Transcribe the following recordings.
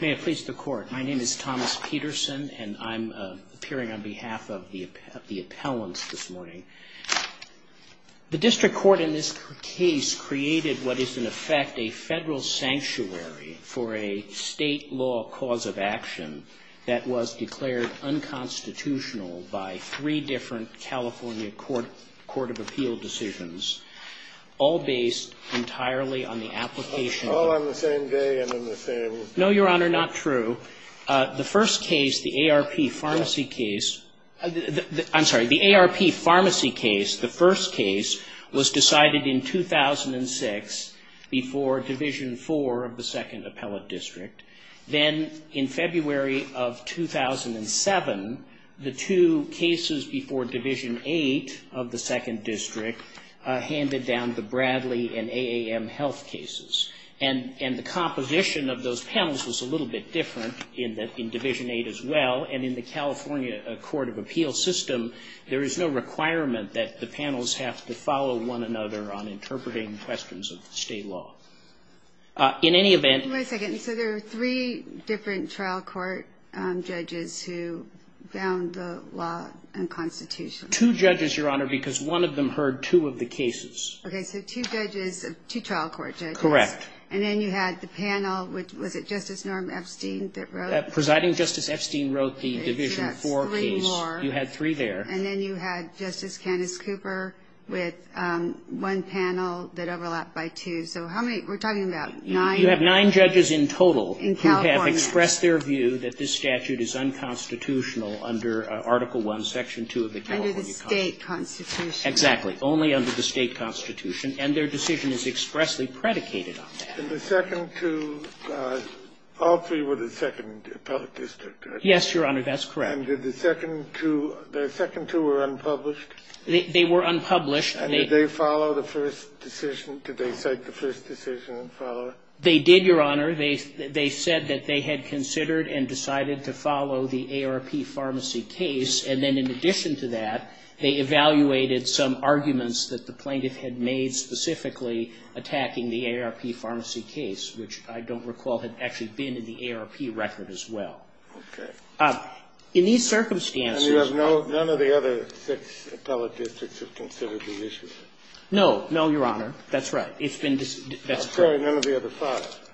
May it please the Court. My name is Thomas Peterson, and I'm appearing on behalf of the appellants this morning. The District Court in this case created what is in effect a federal sanctuary for a state law cause of action that was declared unconstitutional by three different California Court of Appeal decisions, all based entirely on the application of the No, Your Honor, not true. The first case, the ARP Pharmacy case, I'm sorry, the ARP Pharmacy case, the first case, was decided in 2006 before Division IV of the 2nd Appellate District. Then, in February of 2007, the two cases before Division VIII of the 2nd District handed down the Bradley and AAM health cases. And the composition of those panels was a little bit different in Division VIII as well. And in the California Court of Appeal system, there is no requirement that the panels have to follow one another on interpreting questions of the state law. In any event... Wait a second. So there are three different trial court judges who found the law unconstitutional. Two judges, Your Honor, because one of them heard two of the cases. Okay, so two judges, two trial court judges. Correct. And then you had the panel, was it Justice Norm Epstein that wrote... Presiding Justice Epstein wrote the Division IV case. You had three there. And then you had Justice Candace Cooper with one panel that overlapped by two. So how many, we're talking about nine... You have nine judges in total who have expressed their view that this statute is unconstitutional under Article I, Section 2 of the California Constitution. State constitution. Exactly. Only under the state constitution. And their decision is expressly predicated on that. And the second two, all three were the second appellate district, right? Yes, Your Honor, that's correct. And did the second two, the second two were unpublished? They were unpublished. And did they follow the first decision? Did they cite the first decision and follow it? They did, Your Honor. They said that they had considered and decided to follow the ARP Pharmacy case. And then in addition to that, they evaluated some arguments that the plaintiff had made specifically attacking the ARP Pharmacy case, which I don't recall had actually been in the ARP record as well. Okay. In these circumstances... And you have no, none of the other six appellate districts have considered these issues? No. No, Your Honor. That's right. It's been dis... I'm sorry, none of the other five?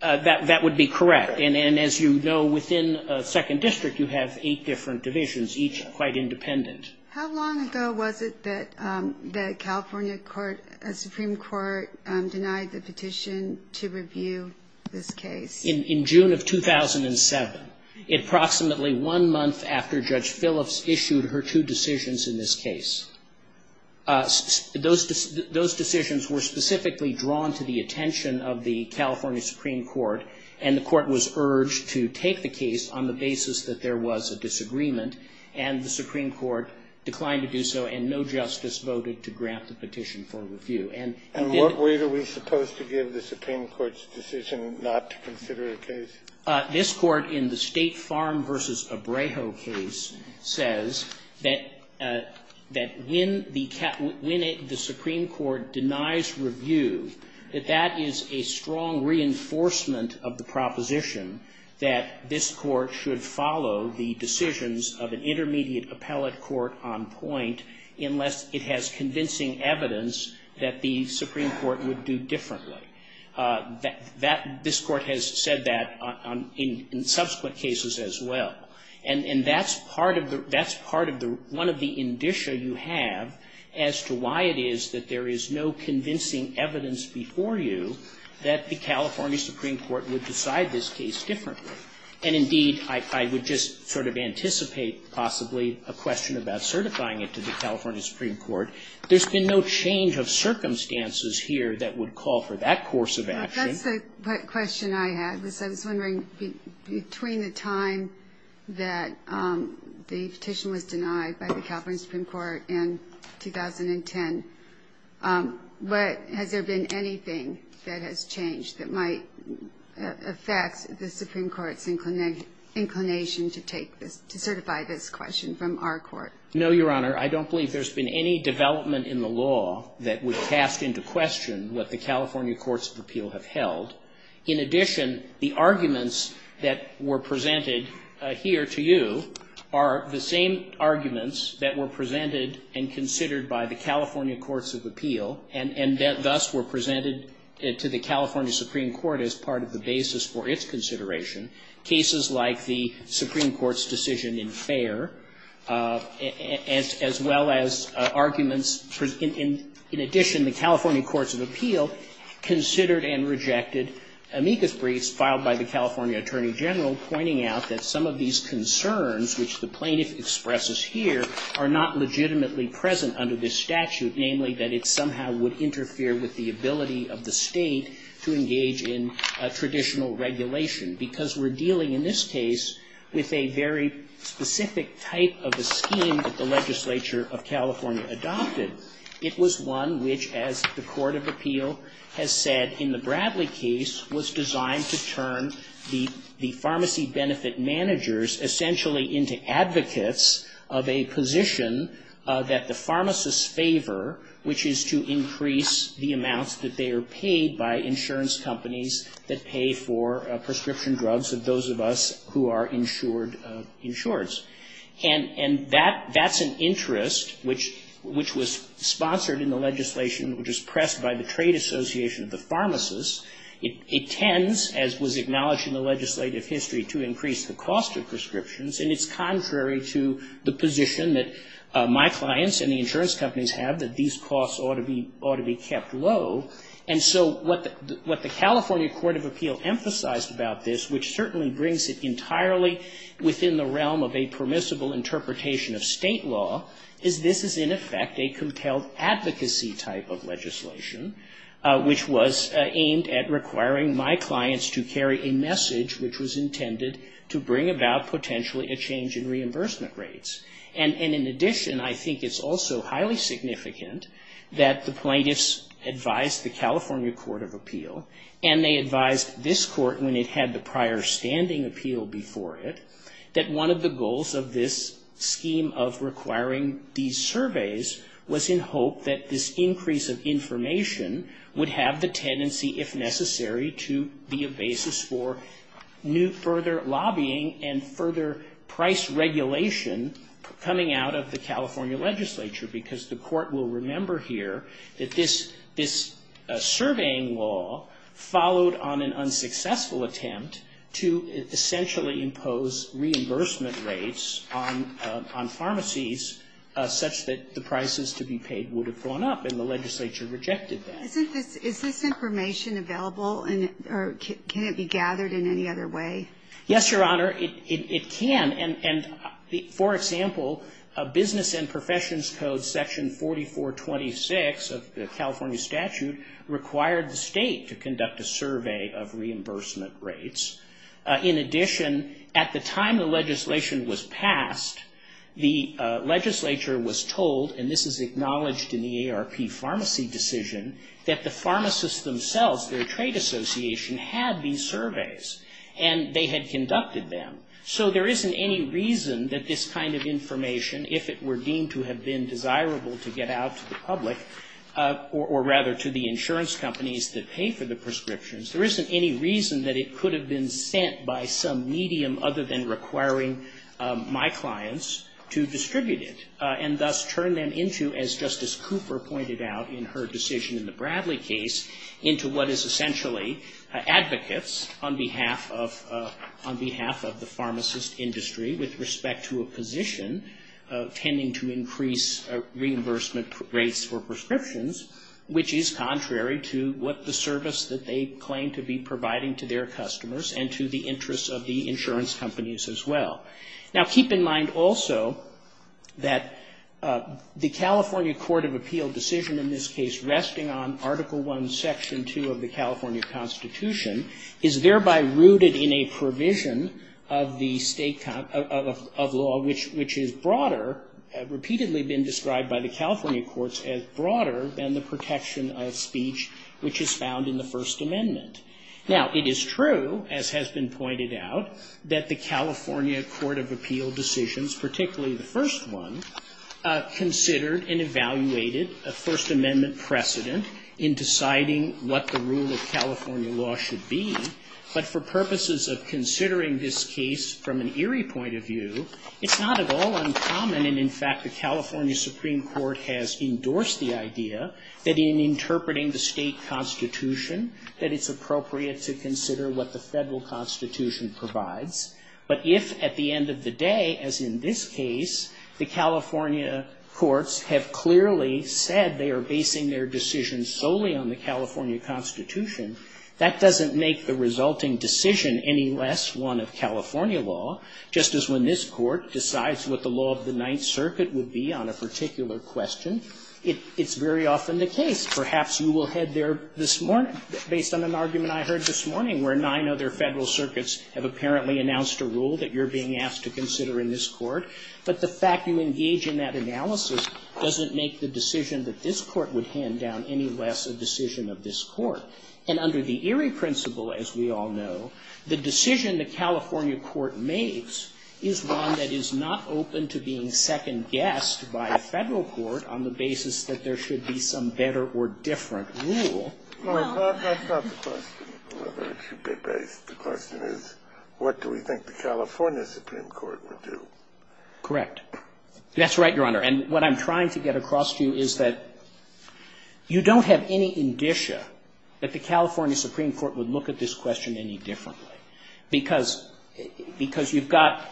That would be correct. And as you know, within a second district, you have eight different divisions, each quite independent. How long ago was it that the California court, Supreme Court, denied the petition to review this case? In June of 2007, approximately one month after Judge Phillips issued her two decisions in this case. Those decisions were specifically drawn to the attention of the California Supreme Court, and the court was urged to take the case on the basis that there was a disagreement. And the Supreme Court declined to do so, and no justice voted to grant the petition for review. And... And what way are we supposed to give the Supreme Court's decision not to consider a case? This court, in the State Farm v. Abrejo case, says that when the Supreme Court denies review, that that is a strong reinforcement of the proposition that this court should follow the decisions of an intermediate appellate court on point unless it has convincing evidence that the Supreme Court would do differently. That, this court has said that in subsequent cases as well. And that's part of the, that's part of the, one of the indicia you have as to why it is that there is no convincing evidence before you that the California Supreme Court would decide this case differently. And indeed, I would just sort of anticipate possibly a question about certifying it to the California Supreme Court. There's been no change of circumstances here that would call for that course of action. That's the question I had. I was wondering, between the time that the petition was denied by the California Supreme Court in 2010, has there been anything that has changed that might affect the Supreme Court's inclination to take this, to certify this question from our court? No, Your Honor. I don't believe there's been any development in the law that would cast into question what the California Courts of Appeal have held. In addition, the arguments that were presented here to you are the same arguments that were presented and considered by the California Courts of Appeal, and thus were presented to the California Supreme Court as part of the basis for its consideration. Cases like the Supreme Court's decision in Fair, as well as arguments, in addition to the California Courts of Appeal, considered and rejected amicus briefs filed by the California Attorney General, pointing out that some of these concerns, which the plaintiff expresses here, are not legitimately present under this statute, namely that it somehow would interfere with the ability of the State to engage in traditional regulation. Because we're dealing in this case with a very specific type of a scheme that the Court of Appeal has said in the Bradley case was designed to turn the pharmacy benefit managers essentially into advocates of a position that the pharmacists favor, which is to increase the amounts that they are paid by insurance companies that pay for prescription drugs of those of us who are insured, insureds. And that's an interest which was sponsored in the legislation, which was pressed by the Trade Association of the pharmacists. It tends, as was acknowledged in the legislative history, to increase the cost of prescriptions. And it's contrary to the position that my clients and the insurance companies have that these costs ought to be kept low. And so what the California Court of Appeal emphasized about this, which certainly brings it entirely within the realm of a permissible interpretation of State law, is this is in effect a compelled advocacy type of legislation, which was aimed at requiring my clients to carry a message which was intended to bring about potentially a change in reimbursement rates. And in addition, I think it's also highly significant that the plaintiffs advised the California Court of Appeal, and they advised this Court when it had the understanding appeal before it, that one of the goals of this scheme of requiring these surveys was in hope that this increase of information would have the tendency, if necessary, to be a basis for further lobbying and further price regulation coming out of the California legislature. Because the Court will remember here that this surveying law followed on an unsuccessful attempt to essentially impose reimbursement rates on pharmacies such that the prices to be paid would have gone up. And the legislature rejected that. Is this information available? Or can it be gathered in any other way? Yes, Your Honor. It can. And for example, Business and Professions Code Section 4426 of the California statute required the state to conduct a survey of reimbursement rates. In addition, at the time the legislation was passed, the legislature was told, and this is acknowledged in the ARP pharmacy decision, that the pharmacists themselves, their trade association, had these surveys and they had conducted them. So there isn't any reason that this kind of information, if it were deemed to have been desirable to get out to the public, or rather to the insurance companies that pay for the prescriptions, there isn't any reason that it could have been sent by some medium other than requiring my clients to distribute it and thus turn them into, as Justice Cooper pointed out in her decision in the Bradley case, into what is essentially advocates on behalf of the pharmacist industry with respect to a position tending to increase reimbursement rates for prescriptions, which is contrary to what the service that they claim to be providing to their customers and to the interests of the insurance companies as well. Now, keep in mind also that the California Court of Appeal decision in this case resting on Article I, Section 2 of the California Constitution is thereby rooted in a provision of the state of law which is broader, repeatedly been described by the California courts as broader than the protection of speech which is found in the First Amendment. Now, it is true, as has been pointed out, that the California Court of Appeal decisions, particularly the first one, considered and evaluated a First Amendment precedent in deciding what the rule of California law should be, but for purposes of considering this case from an eerie point of view, it's not at all uncommon, and in fact the California Supreme Court has endorsed the idea, that in interpreting the state constitution, that it's appropriate to consider what the federal constitution provides. But if at the end of the day, as in this case, the California courts have clearly said they are basing their decisions solely on the California Constitution, that doesn't make the resulting decision any less one of California law, just as when this court decides what the law of the Ninth Circuit would be on a particular question, it's very often the case. Perhaps you will head there this morning, based on an argument I heard this morning where nine other federal circuits have apparently announced a rule that you're being asked to consider in this court, but the fact you engage in that analysis doesn't make the decision that this court would hand down any less a decision of this court, and under the eerie principle, as we all know, the decision the California court makes is one that is not open to being second-guessed by a federal court on the basis that there should be some better or different rule. The question is, what do we think the California Supreme Court would do? Correct. That's right, Your Honor, and what I'm trying to get across to you is that you don't have any indicia that the California Supreme Court would look at this question any differently, because you've got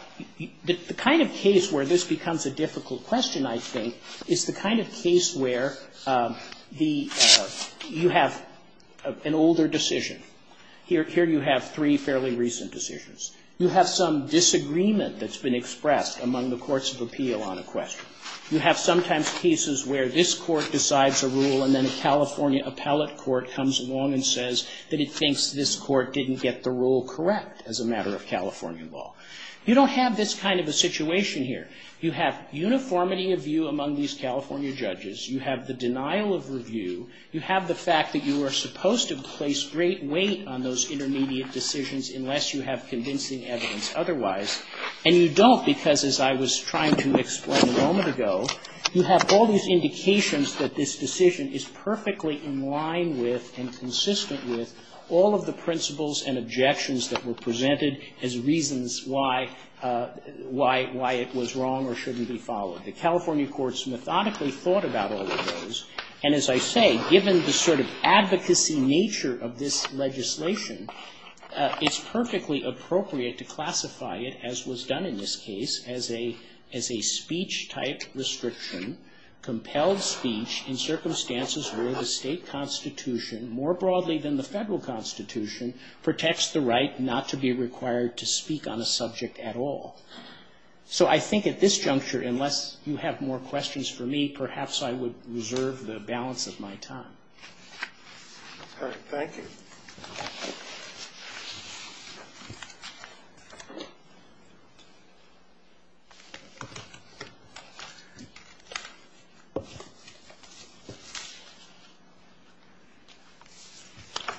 the kind of case where this becomes a difficult question, I think, is the kind of case where you have an older decision. Here you have three fairly recent decisions. You have some disagreement that's been expressed among the courts of appeal on a question. You have sometimes cases where this court decides a rule and then a California appellate court comes along and says that it thinks this court didn't get the rule correct as a matter of California law. You don't have this kind of a situation here. You have uniformity of view among these California judges. You have the denial of review. You have the fact that you are supposed to place great weight on those intermediate decisions unless you have convincing evidence otherwise, and you have, as I was trying to explain a moment ago, you have all these indications that this decision is perfectly in line with and consistent with all of the principles and objections that were presented as reasons why it was wrong or shouldn't be followed. The California courts methodically thought about all of those, and as I say, given the sort of advocacy nature of this legislation, it's perfectly appropriate to classify it, as was done in this case, as a speech-type restriction, compelled speech in circumstances where the state constitution, more broadly than the federal constitution, protects the right not to be required to speak on a subject at all. So I think at this juncture, unless you have more questions for me, perhaps I would reserve the balance of my time. All right. Thank you.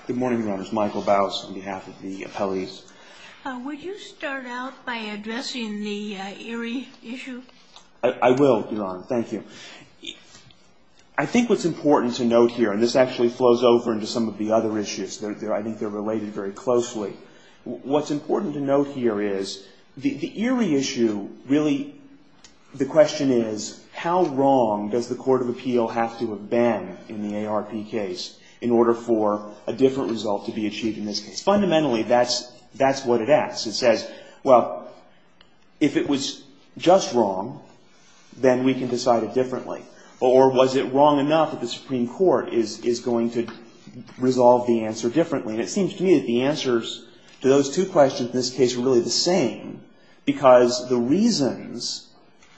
Good morning, Your Honor. This is Michael Baus on behalf of the appellees. Would you start out by addressing the Erie issue? I will, Your Honor. Thank you. I think what's important to note here, and this actually flows over into some of the other issues. I think they're related very closely. What's important to note here is the Erie issue really, the question is, how wrong does the court of appeal have to have been in the ARP case in order for a different result to be achieved in this case? Fundamentally, that's what it asks. It says, well, if it was just wrong, then we can decide it differently. Or was it wrong enough that the Supreme Court is going to resolve the answer differently? And it seems to me that the answers to those two questions in this case are really the same, because the reasons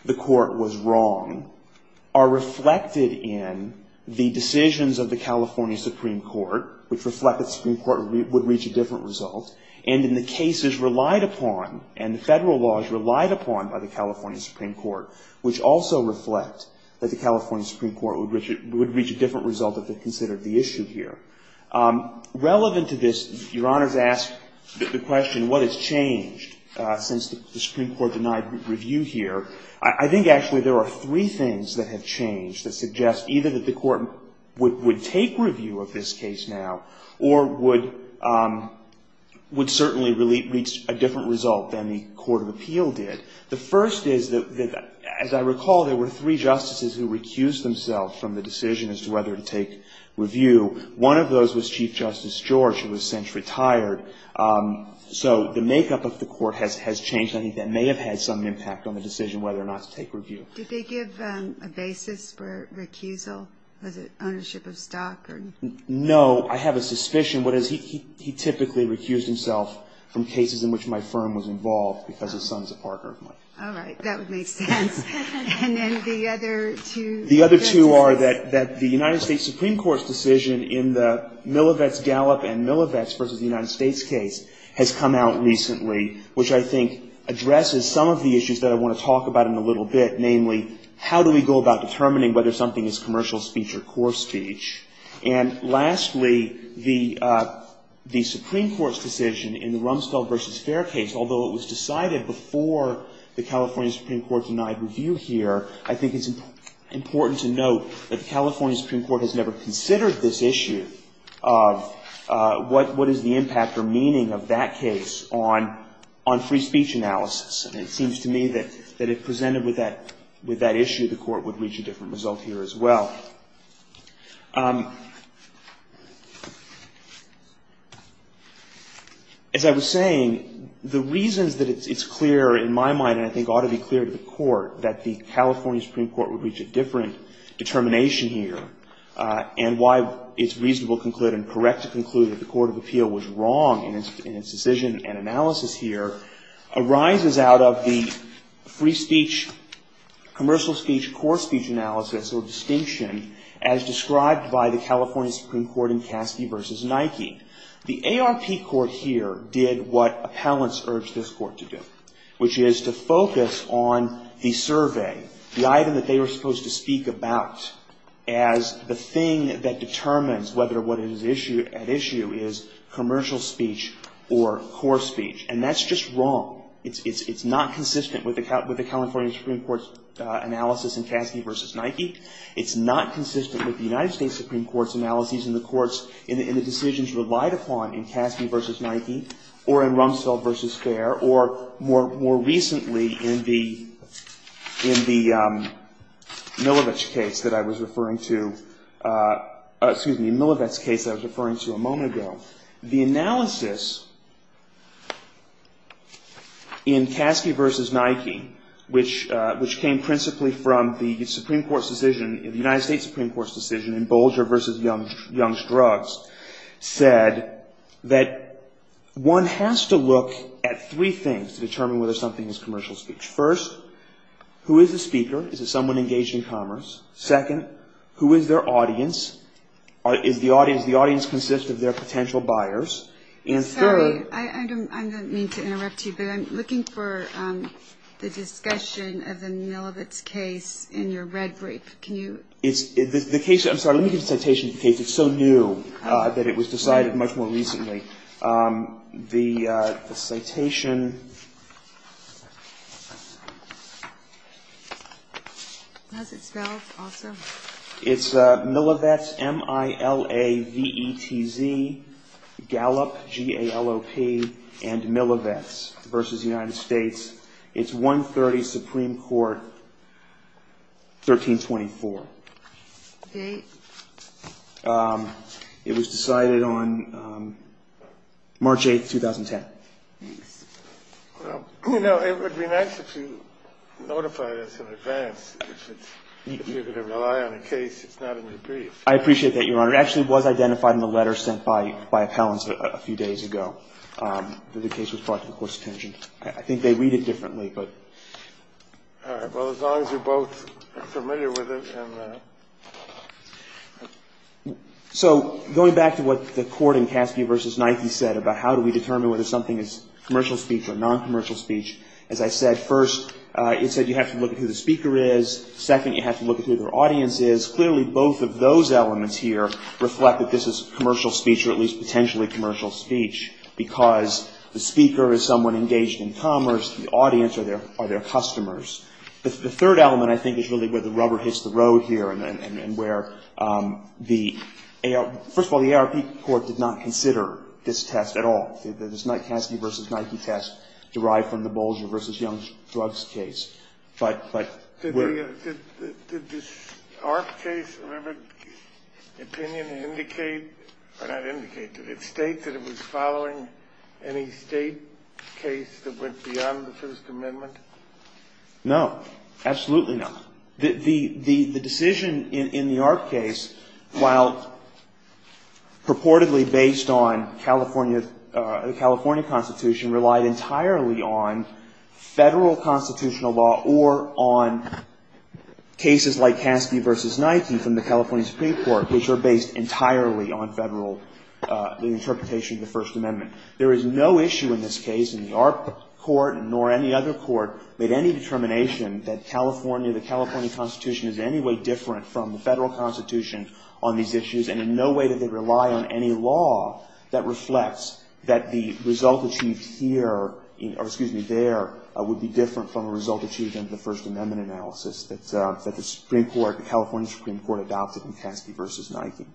the court was wrong are reflected in the decisions of the California Supreme Court, which reflect that the Supreme Court would reach a different result. And in the cases relied upon, and the federal laws relied upon by the California Supreme Court, which also reflect that the California Supreme Court would reach a different result if it considered the issue here. Relevant to this, Your Honor's asked the question, what has changed since the Supreme Court denied review here? I think actually there are three things that have changed that suggest either that the court would take review of this case now, or would certainly reach a different result than the Court of Appeal did. The first is that, as I recall, there were three justices who recused themselves from the decision as to whether to take review. One of those was Chief Justice George, who has since retired. So the makeup of the court has changed. I think that may have had some impact on the decision whether or not to take review. Did they give a basis for recusal? Was it ownership of stock? No. I have a suspicion. He typically recused himself from cases in which my firm was involved because his son is a partner of mine. All right. That would make sense. And then the other two? The other two are that the United States Supreme Court's decision in the Millivetz-Gallup and Millivetz versus the United States case has come out recently, which I think addresses some of the issues that I want to talk about in a little bit, namely, how do we go about determining whether something is commercial speech or core speech? And lastly, the Supreme Court's decision in the Rumsfeld versus Fair case, although it was decided before the California Supreme Court denied review here, I think it's important to note that the California Supreme Court has never considered this issue of what is the impact or meaning of that case on free speech analysis. And it seems to me that if presented with that issue, the Court would reach a different result here as well. As I was saying, the reasons that it's clear in my mind, and I think ought to be clear to the Court, that the California Supreme Court would reach a different determination here and why it's reasonable to conclude and correct to conclude that the Court of Appeal was wrong in its decision and analysis here arises out of the free speech, commercial speech, core speech analysis or distinction as described by the California Supreme Court in Caskey versus Nike. The ARP court here did what appellants urged this court to do, which is to focus on the survey, the item that they were supposed to speak about as the thing that determines whether what is at issue is commercial speech or core speech. And that's just wrong. It's not consistent with the California Supreme Court's analysis in Caskey versus Nike. It's not consistent with the United States Supreme Court's analysis in the decisions relied upon in Caskey versus Nike or in Rumsfeld versus Fair or more recently in the Milovec case that I was referring to a moment ago. The analysis in Caskey versus Nike, which came principally from the Supreme Court's decision, the United States Supreme Court's decision in Bolger versus Young's Drugs, said that one has to look at three things to determine whether something is commercial speech. First, who is the speaker? Is it someone engaged in commerce? Second, who is their audience? Is the audience, the audience consists of their potential buyers? And third. I'm sorry. I don't mean to interrupt you, but I'm looking for the discussion of the Milovec case in your red brief. Can you? The case, I'm sorry. Let me give the citation of the case. It's so new that it was decided much more recently. The citation. How's it spelled also? It's Milovec, M-I-L-O-V-E-T-Z, Gallup, G-A-L-L-O-P and Milovec versus United States. It's 130 Supreme Court, 1324. It was decided on March 8th, 2010. Well, you know, it would be nice if you notified us in advance. If you're going to rely on a case, it's not in your brief. I appreciate that, Your Honor. It actually was identified in the letter sent by appellants a few days ago. The case was brought to the Court's attention. I think they read it differently, but. All right. Well, as long as you're both familiar with it. So going back to what the court in Caskey versus Knightley said about how do we judge something as commercial speech or noncommercial speech, as I said, first, it said you have to look at who the speaker is. Second, you have to look at who their audience is. Clearly, both of those elements here reflect that this is commercial speech or at least potentially commercial speech because the speaker is someone engaged in commerce. The audience are their customers. The third element, I think, is really where the rubber hits the road here and where the ARP, first of all, the ARP court did not consider this test at all. It's not Caskey versus Knightley test derived from the Bolger versus Young's drugs case. But. Did the ARP case, remember, opinion indicate, or not indicate, did it state that it was following any state case that went beyond the First Amendment? No. Absolutely not. The decision in the ARP case, while purportedly based on California Constitution, relied entirely on federal constitutional law or on cases like Caskey versus Knightley from the California Supreme Court, which are based entirely on federal interpretation of the First Amendment. There is no issue in this case in the ARP court nor any other court made any that the California Constitution is in any way different from the federal constitution on these issues. And in no way did they rely on any law that reflects that the result achieved here or, excuse me, there would be different from a result achieved in the First Amendment analysis that the Supreme Court, the California Supreme Court adopted in Caskey versus Knightley.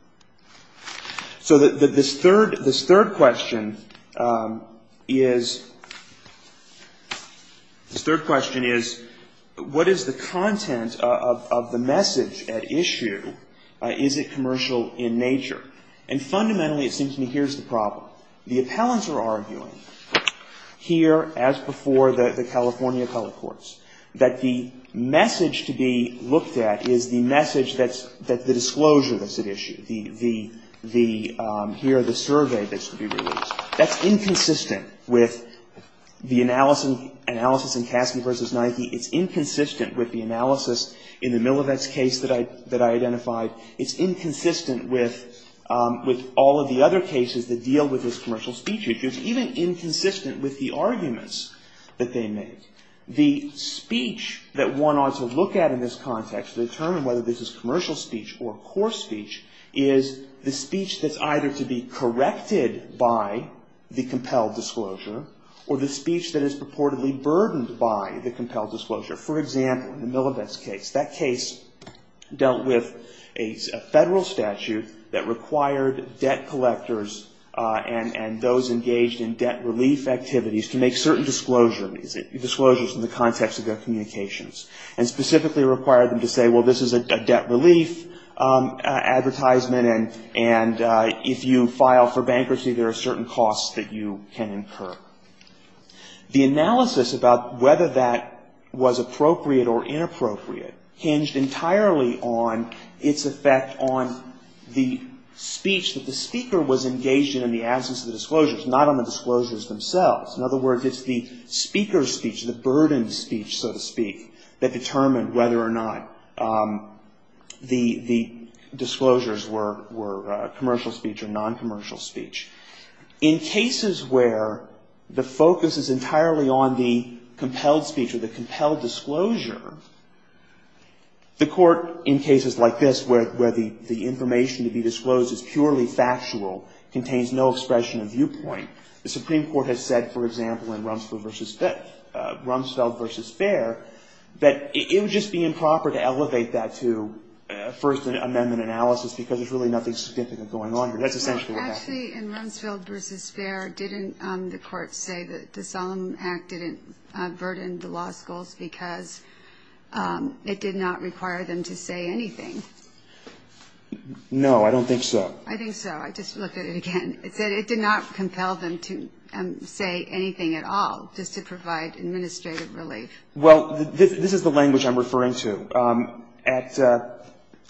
So this third, this third question is, this third question is, what is the content of the message at issue? Is it commercial in nature? And fundamentally, it seems to me, here's the problem. The appellants are arguing here, as before the California colored courts, that the message to be looked at is the message that's, that the disclosure that's at issue, the, the, the, here are the survey that's to be released. That's inconsistent with the analysis in Caskey versus Knightley. It's inconsistent with the analysis in the Milovec case that I, that I identified. It's inconsistent with, with all of the other cases that deal with this commercial speech issue. It's even inconsistent with the arguments that they make. The speech that one ought to look at in this context to determine whether this is a commercial speech is the speech that's either to be corrected by the compelled disclosure or the speech that is purportedly burdened by the compelled disclosure. For example, in the Milovec case, that case dealt with a, a federal statute that required debt collectors and, and those engaged in debt relief activities to make certain disclosures, disclosures in the context of their communications. And specifically required them to say, well, this is a debt relief advertisement and, and if you file for bankruptcy, there are certain costs that you can incur. The analysis about whether that was appropriate or inappropriate hinged entirely on its effect on the speech that the speaker was engaged in in the absence of the disclosures, not on the disclosures themselves. In other words, it's the speaker's speech, the burdened speech, so to speak, that determined whether or not the, the disclosures were, were commercial speech or non-commercial speech. In cases where the focus is entirely on the compelled speech or the compelled disclosure, the court in cases like this where, where the, the information to be disclosed is purely factual, contains no expression of viewpoint, the Supreme Court, for example, in Rumsfeld v. Fair, Rumsfeld v. Fair, that it would just be improper to elevate that to First Amendment analysis because there's really nothing significant going on here. That's essentially what happened. Actually, in Rumsfeld v. Fair, didn't the court say that the Solemn Act didn't burden the law schools because it did not require them to say anything? No, I don't think so. I think so. I just looked at it again. It said it did not compel them to say anything at all, just to provide administrative relief. Well, this, this is the language I'm referring to. At,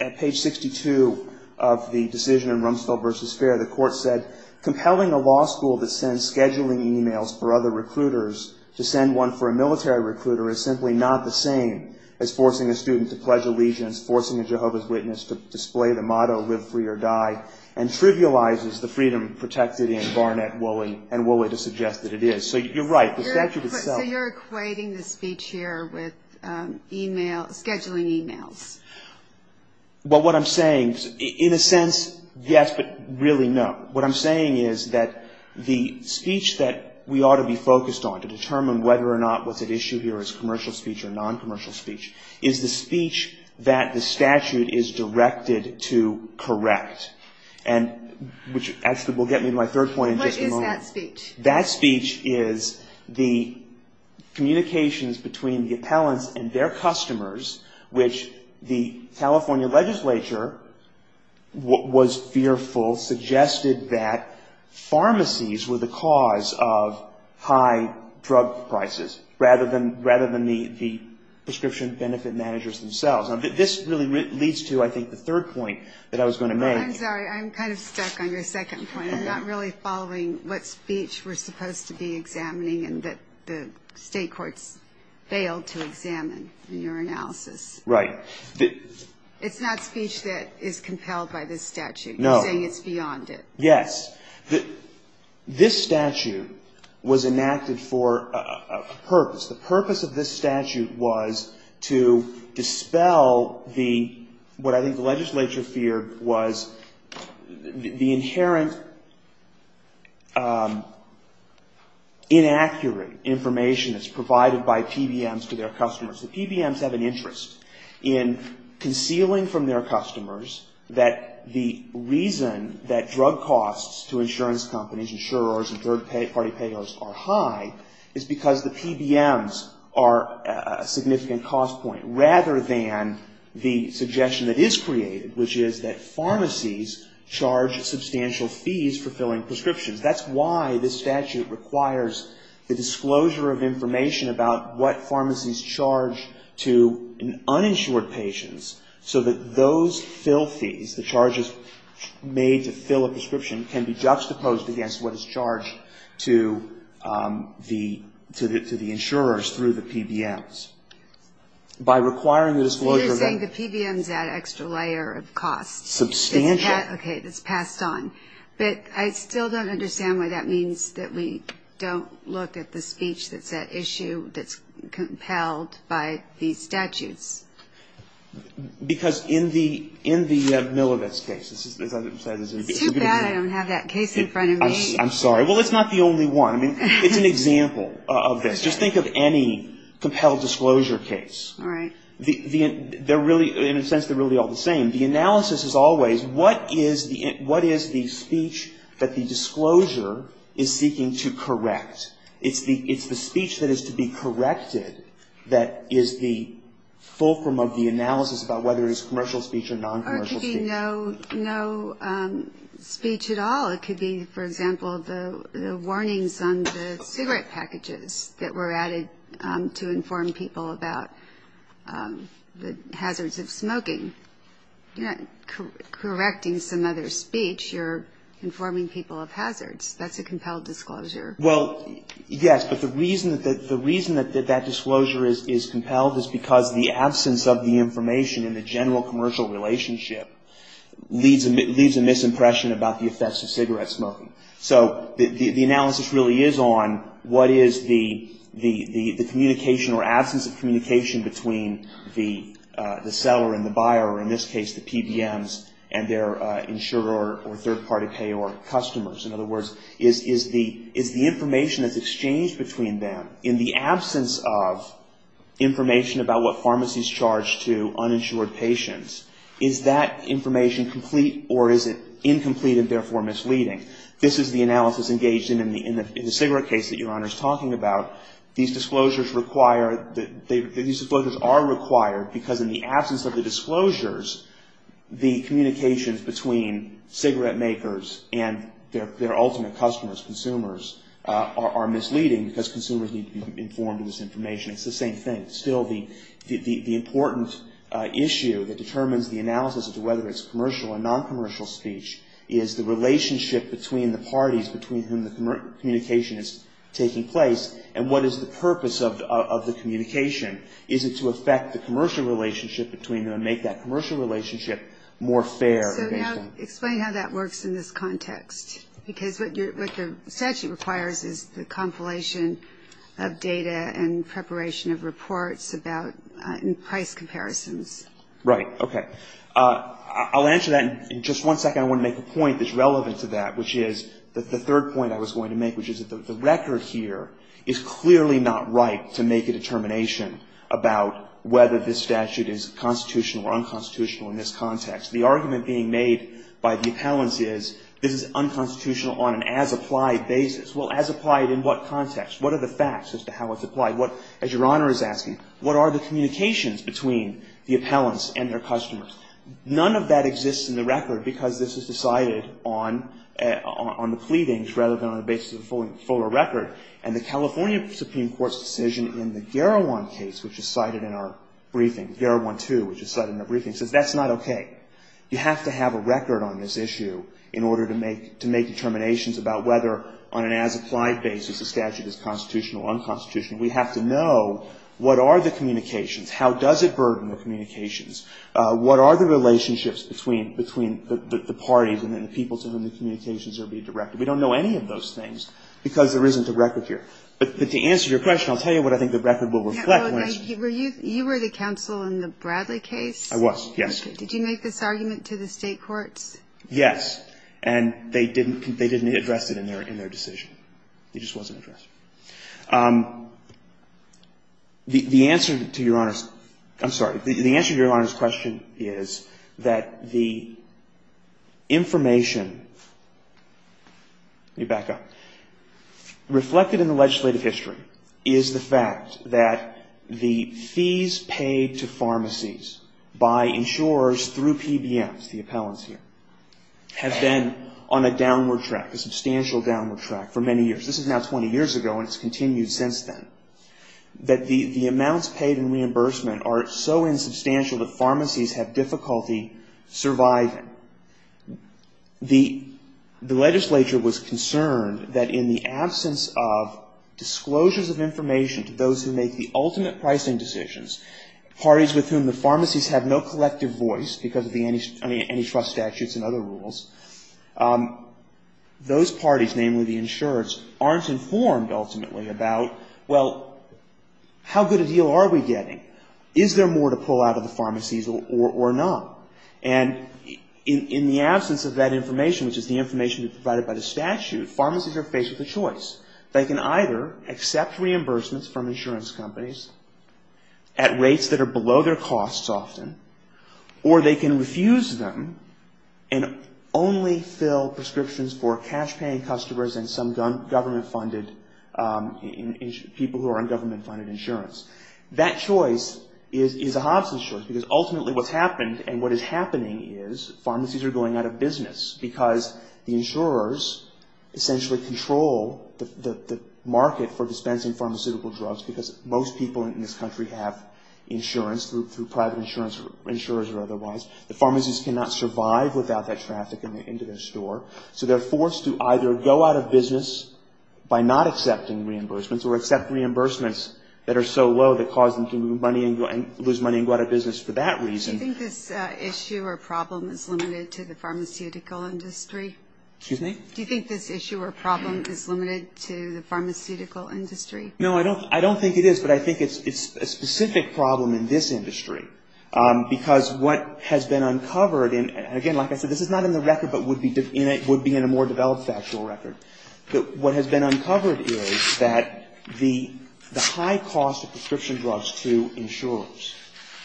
at page 62 of the decision in Rumsfeld v. Fair, the court said, compelling a law school that sends scheduling emails for other recruiters to send one for a military recruiter is simply not the same as forcing a student to pledge allegiance, forcing a Jehovah's Witness to display the motto, live free or die, and trivializes the freedom protected in Barnett, Woolley, and Woolley to suggest that it is. So you're right. The statute itself. So you're equating the speech here with email, scheduling emails? Well, what I'm saying, in a sense, yes, but really no. What I'm saying is that the speech that we ought to be focused on to determine whether or not what's at issue here is commercial speech or non-commercial speech, is the speech that the statute is directed to correct. And, which actually will get me to my third point in just a moment. What is that speech? That speech is the communications between the appellants and their customers, which the California legislature was fearful, suggested that pharmacies were the cause of high drug prices, rather than the prescription benefit managers themselves. This really leads to, I think, the third point that I was going to make. I'm sorry. I'm kind of stuck on your second point. I'm not really following what speech we're supposed to be examining and that the state courts failed to examine in your analysis. It's not speech that is compelled by this statute. No. You're saying it's beyond it. Yes. This statute was enacted for a purpose. The purpose of this statute was to dispel what I think the legislature feared was the inherent inaccurate information that's provided by PBMs to their customers. The PBMs have an interest in concealing from their customers that the reason that drug costs to insurance companies, insurers, and third-party payers are high is because the PBMs are a significant cost point, rather than the suggestion that is created, which is that pharmacies charge substantial fees for filling prescriptions. That's why this statute requires the disclosure of information about what pharmacies charge to uninsured patients, so that those fill fees, the charges made to fill a prescription can be juxtaposed against what is charged to the insurers through the PBMs. You're saying the PBMs add an extra layer of cost. Substantial. Okay. That's passed on. But I still don't understand why that means that we don't look at the speech that's at issue, that's compelled by these statutes. Because in the Milibus case, as I said. It's too bad I don't have that case in front of me. I'm sorry. Well, it's not the only one. I mean, it's an example of this. Just think of any compelled disclosure case. All right. They're really, in a sense, they're really all the same. The analysis is always what is the speech that the disclosure is seeking to It's the speech that is to be corrected that is the full disclosure of the analysis about whether it is commercial speech or non-commercial speech. Or it could be no speech at all. It could be, for example, the warnings on the cigarette packages that were added to inform people about the hazards of smoking. You're not correcting some other speech. You're informing people of hazards. That's a compelled disclosure. Well, yes. But the reason that that disclosure is compelled is because the absence of the information in the general commercial relationship leaves a misimpression about the effects of cigarette smoking. So the analysis really is on what is the communication or absence of communication between the seller and the buyer, or in this case the PBMs In other words, is the information that's exchanged between them in the absence of information about what pharmacies charge to uninsured patients, is that information complete or is it incomplete and therefore misleading? This is the analysis engaged in the cigarette case that Your Honor is talking about. These disclosures are required because in the absence of the disclosures, the communications between cigarette makers and their ultimate customers, consumers, are misleading because consumers need to be informed of this information. It's the same thing. Still, the important issue that determines the analysis of whether it's commercial or noncommercial speech is the relationship between the parties between whom the communication is taking place and what is the purpose of the communication. Is it to affect the commercial relationship between them and make that commercial relationship more fair? So now explain how that works in this context. Because what the statute requires is the compilation of data and preparation of reports about price comparisons. Right. Okay. I'll answer that in just one second. I want to make a point that's relevant to that, which is the third point I was going to make, which is that the record here is clearly not right to make a constitutional in this context. The argument being made by the appellants is this is unconstitutional on an as-applied basis. Well, as-applied in what context? What are the facts as to how it's applied? As Your Honor is asking, what are the communications between the appellants and their customers? None of that exists in the record because this is decided on the pleadings rather than on the basis of the fuller record. And the California Supreme Court's decision in the Garawan case, which is cited in our briefing, Garawan 2, which is cited in our briefing, says that's not okay. You have to have a record on this issue in order to make determinations about whether on an as-applied basis a statute is constitutional or unconstitutional. We have to know what are the communications, how does it burden the communications, what are the relationships between the parties and the people to whom the communications are being directed. We don't know any of those things because there isn't a record here. But to answer your question, I'll tell you what I think the record will reflect on. So you were the counsel in the Bradley case? I was, yes. Did you make this argument to the state courts? Yes. And they didn't address it in their decision. It just wasn't addressed. The answer to Your Honor's question is that the information reflected in the case is that the fees paid to pharmacies by insurers through PBMs, the appellants here, have been on a downward track, a substantial downward track, for many years. This is now 20 years ago and it's continued since then. That the amounts paid in reimbursement are so insubstantial that pharmacies have difficulty surviving. The legislature was concerned that in the absence of disclosures of pricing decisions, parties with whom the pharmacies have no collective voice because of the antitrust statutes and other rules, those parties, namely the insurers, aren't informed ultimately about, well, how good a deal are we getting? Is there more to pull out of the pharmacies or not? And in the absence of that information, which is the information provided by the statute, pharmacies are faced with a choice. They can either accept reimbursements from insurance companies at rates that are below their costs often, or they can refuse them and only fill prescriptions for cash-paying customers and some government-funded, people who are on government-funded insurance. That choice is a Hobson's choice because ultimately what's happened and what is happening is pharmacies are going out of business because the insurers essentially control the market for dispensing pharmaceutical drugs because most people in this country have insurance through private insurance insurers or otherwise. The pharmacies cannot survive without that traffic into their store. So they're forced to either go out of business by not accepting reimbursements or accept reimbursements that are so low that cause them to lose money and go out of business for that reason. Do you think this issue or problem is limited to the pharmaceutical industry? Excuse me? Do you think this issue or problem is limited to the pharmaceutical industry? No, I don't think it is. But I think it's a specific problem in this industry because what has been uncovered, and again, like I said, this is not in the record but would be in a more developed factual record. But what has been uncovered is that the high cost of prescription drugs to insurers,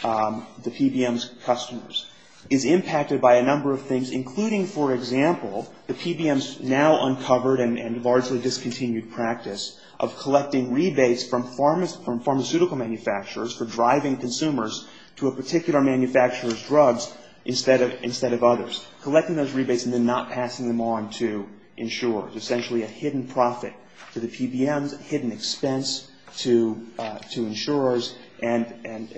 the PBM's customers, is impacted by a number of things, including for example, the PBM's now uncovered and largely discontinued practice of collecting rebates from pharmaceutical manufacturers for driving consumers to a particular manufacturer's drugs instead of others, collecting those rebates and then not passing them on to insurers, essentially a hidden profit to the PBMs, a hidden expense to insurers and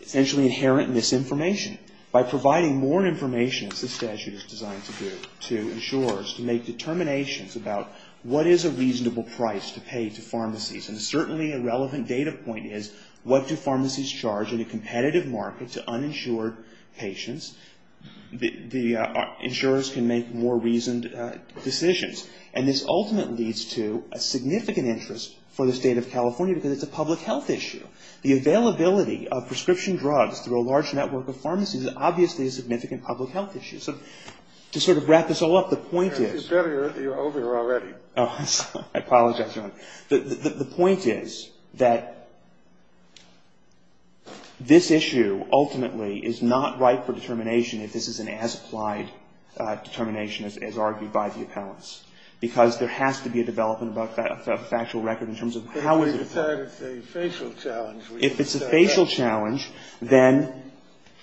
essentially inherent misinformation. By providing more information, as the statute is designed to do, to insurers to make determinations about what is a reasonable price to pay to pharmacies and certainly a relevant data point is what do pharmacies charge in a competitive market to uninsured patients? The insurers can make more reasoned decisions. And this ultimately leads to a significant interest for the state of California because it's a public health issue. The availability of prescription drugs through a large network of pharmacies is obviously a significant public health issue. So to sort of wrap this all up, the point is the point is that this issue ultimately is not ripe for determination if this is an as-applied determination as argued by the appellants. Because there has to be a development of a factual record in terms of how we decide if it's a facial challenge. If it's a facial challenge, then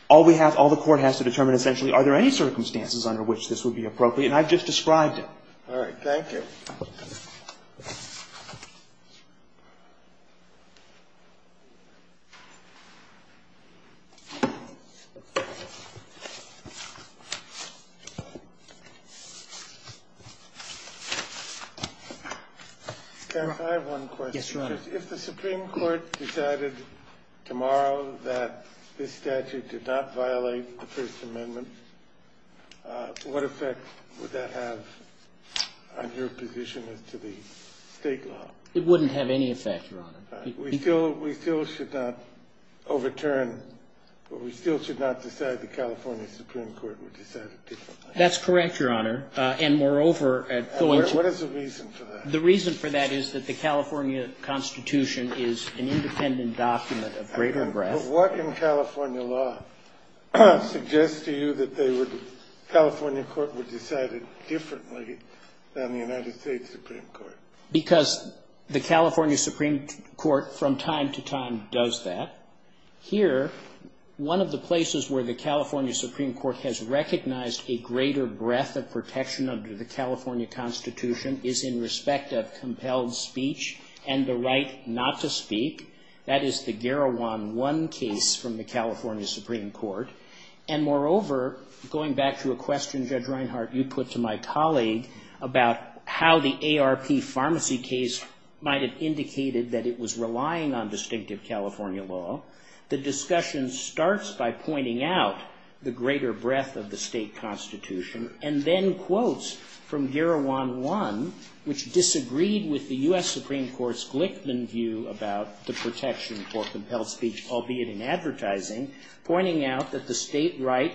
all we have, all the court has to determine essentially are there any circumstances under which this would be appropriate? And I've just described it. All right. Thank you. I have one question. If the Supreme Court decided tomorrow that this statute did not violate the state law, what would be the position as to the state law? It wouldn't have any effect, Your Honor. We still should not overturn, but we still should not decide the California Supreme Court would decide it differently. That's correct, Your Honor. And moreover, at the legislature. And what is the reason for that? The reason for that is that the California Constitution is an independent document of greater breadth. But what in California law suggests to you that they would, the California Supreme Court would decide it differently than the United States Supreme Court? Because the California Supreme Court from time to time does that. Here, one of the places where the California Supreme Court has recognized a greater breadth of protection under the California Constitution is in respect of compelled speech and the right not to speak. That is the Garawan 1 case from the California Supreme Court. And moreover, going back to a question, Judge Reinhart, you put to my colleague about how the ARP pharmacy case might have indicated that it was relying on distinctive California law. The discussion starts by pointing out the greater breadth of the state Constitution and then quotes from Garawan 1, which disagreed with the U.S. Supreme Court's Glickman view about the protection for compelled speech, albeit in advertising, pointing out that the state right,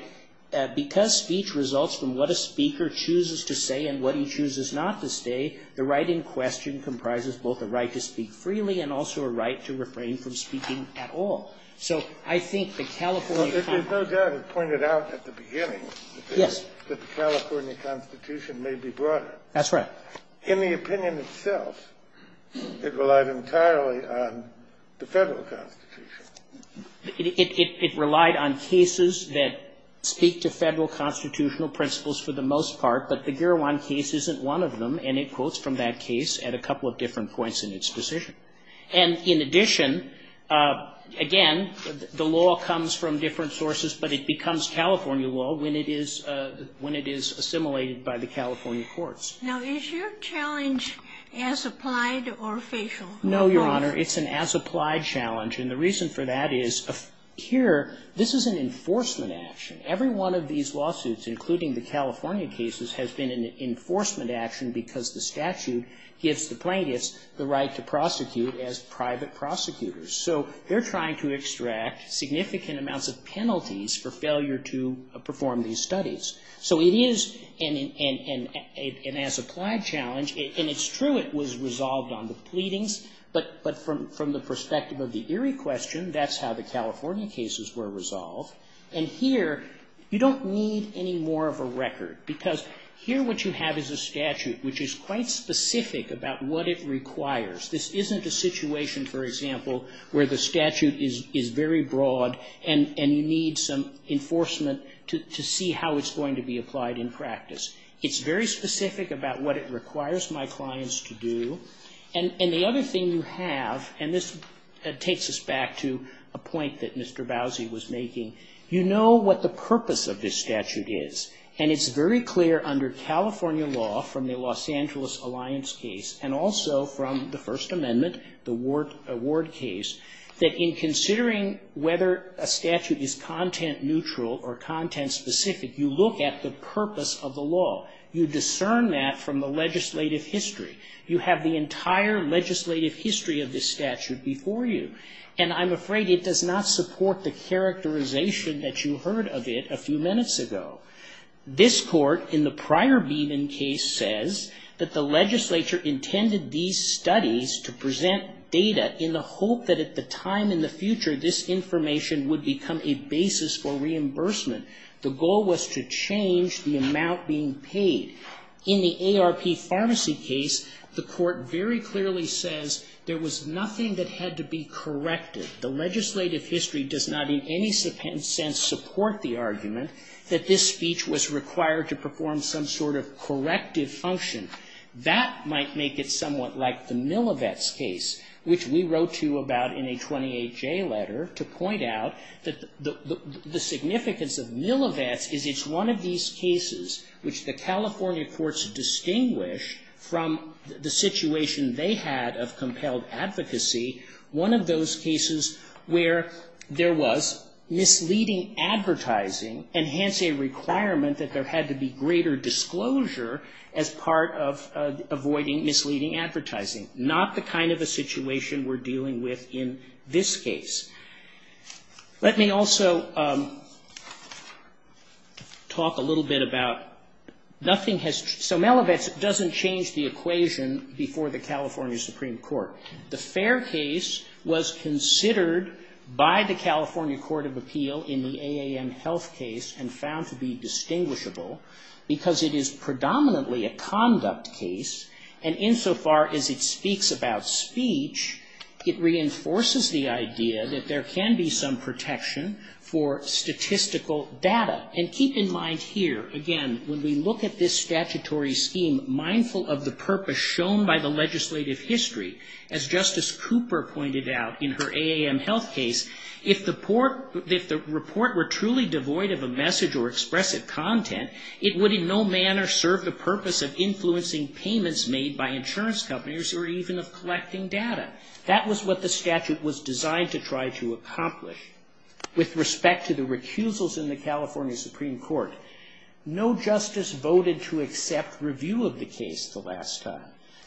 because speech results from what a speaker chooses to say and what he chooses not to say, the right in question comprises both a right to speak freely and also a right to refrain from speaking at all. So I think the California Constitution --- There's no doubt it pointed out at the beginning that the California Constitution may be broader. That's right. In the opinion itself, it relied entirely on the Federal Constitution. It relied on cases that speak to Federal constitutional principles for the most part, but the Garawan case isn't one of them, and it quotes from that case at a couple of different points in its position. And in addition, again, the law comes from different sources, but it becomes California law when it is assimilated by the California courts. Now, is your challenge as applied or facial? No, Your Honor. It's an as-applied challenge. And the reason for that is, here, this is an enforcement action. Every one of these lawsuits, including the California cases, has been an enforcement action because the statute gives the plaintiffs the right to prosecute as private prosecutors. So they're trying to extract significant amounts of penalties for failure to perform these studies. So it is an as-applied challenge, and it's true it was resolved on the pleadings, but from the perspective of the Erie question, that's how the California cases were resolved. And here, you don't need any more of a record, because here what you have is a statute which is quite specific about what it requires. This isn't a situation, for example, where the statute is very broad and you need some enforcement to see how it's going to be applied in practice. It's very specific about what it requires my clients to do. And the other thing you have, and this takes us back to a point that Mr. Bowsy was making, you know what the purpose of this statute is. And it's very clear under California law from the Los Angeles Alliance case and also from the First Amendment, the Ward case, that in considering whether a statute is content-neutral or content-specific, you look at the purpose of the law. You discern that from the legislative history. You have the entire legislative history of this statute before you. And I'm afraid it does not support the characterization that you heard of it a few minutes ago. This court, in the prior Beeman case, says that the legislature intended these studies to present data in the hope that at the time in the future, this information would become a basis for reimbursement. The goal was to change the amount being paid. In the ARP Pharmacy case, the court very clearly says there was nothing that had to be corrected. The legislative history does not, in any sense, support the argument that this speech was required to perform some sort of corrective function. That might make it somewhat like the Millivetz case, which we wrote to you about in a 28-J letter to point out that the significance of Millivetz is it's one of these cases which the California courts distinguish from the situation they had of compelled advocacy, one of those cases where there was misleading advertising and hence a requirement that there had to be greater disclosure as part of avoiding misleading advertising, not the kind of a situation we're dealing with in this case. Let me also talk a little bit about nothing has, so Millivetz doesn't change the equation before the California Supreme Court. The Fair case was considered by the California Court of Appeal in the AAM Health case and found to be distinguishable because it is predominantly a conduct case, and insofar as it speaks about speech, it reinforces the idea that there can be some protection for statistical data. And keep in mind here, again, when we look at this statutory scheme, mindful of the purpose shown by the legislative history. As Justice Cooper pointed out in her AAM Health case, if the report were truly devoid of a message or expressive content, it would in no manner serve the purpose of influencing payments made by insurance companies or even of collecting data. That was what the statute was designed to try to accomplish. With respect to the recusals in the California Supreme Court, no justice voted to accept review of the case the last time.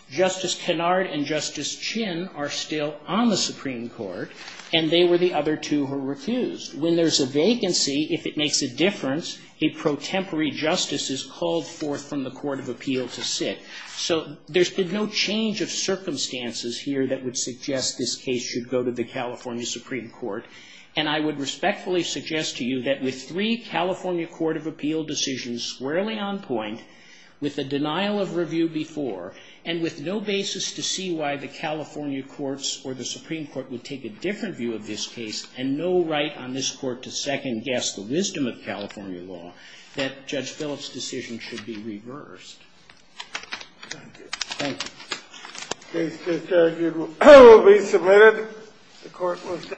Justice Kennard and Justice Chin are still on the Supreme Court, and they were the other two who were recused. When there's a vacancy, if it makes a difference, a pro-temporary justice is called forth from the Court of Appeal to sit. So there's been no change of circumstances here that would suggest this case should go to the California Supreme Court. And I would respectfully suggest to you that with three California Court of Appeal decisions squarely on point, with a denial of review before, and with no basis to see why the California courts or the Supreme Court would take a different view of this case, and no right on this Court to second-guess the wisdom of California law, that would be reversed. Thank you. Thank you. The case to be reviewed will be submitted. The Court was adjourned.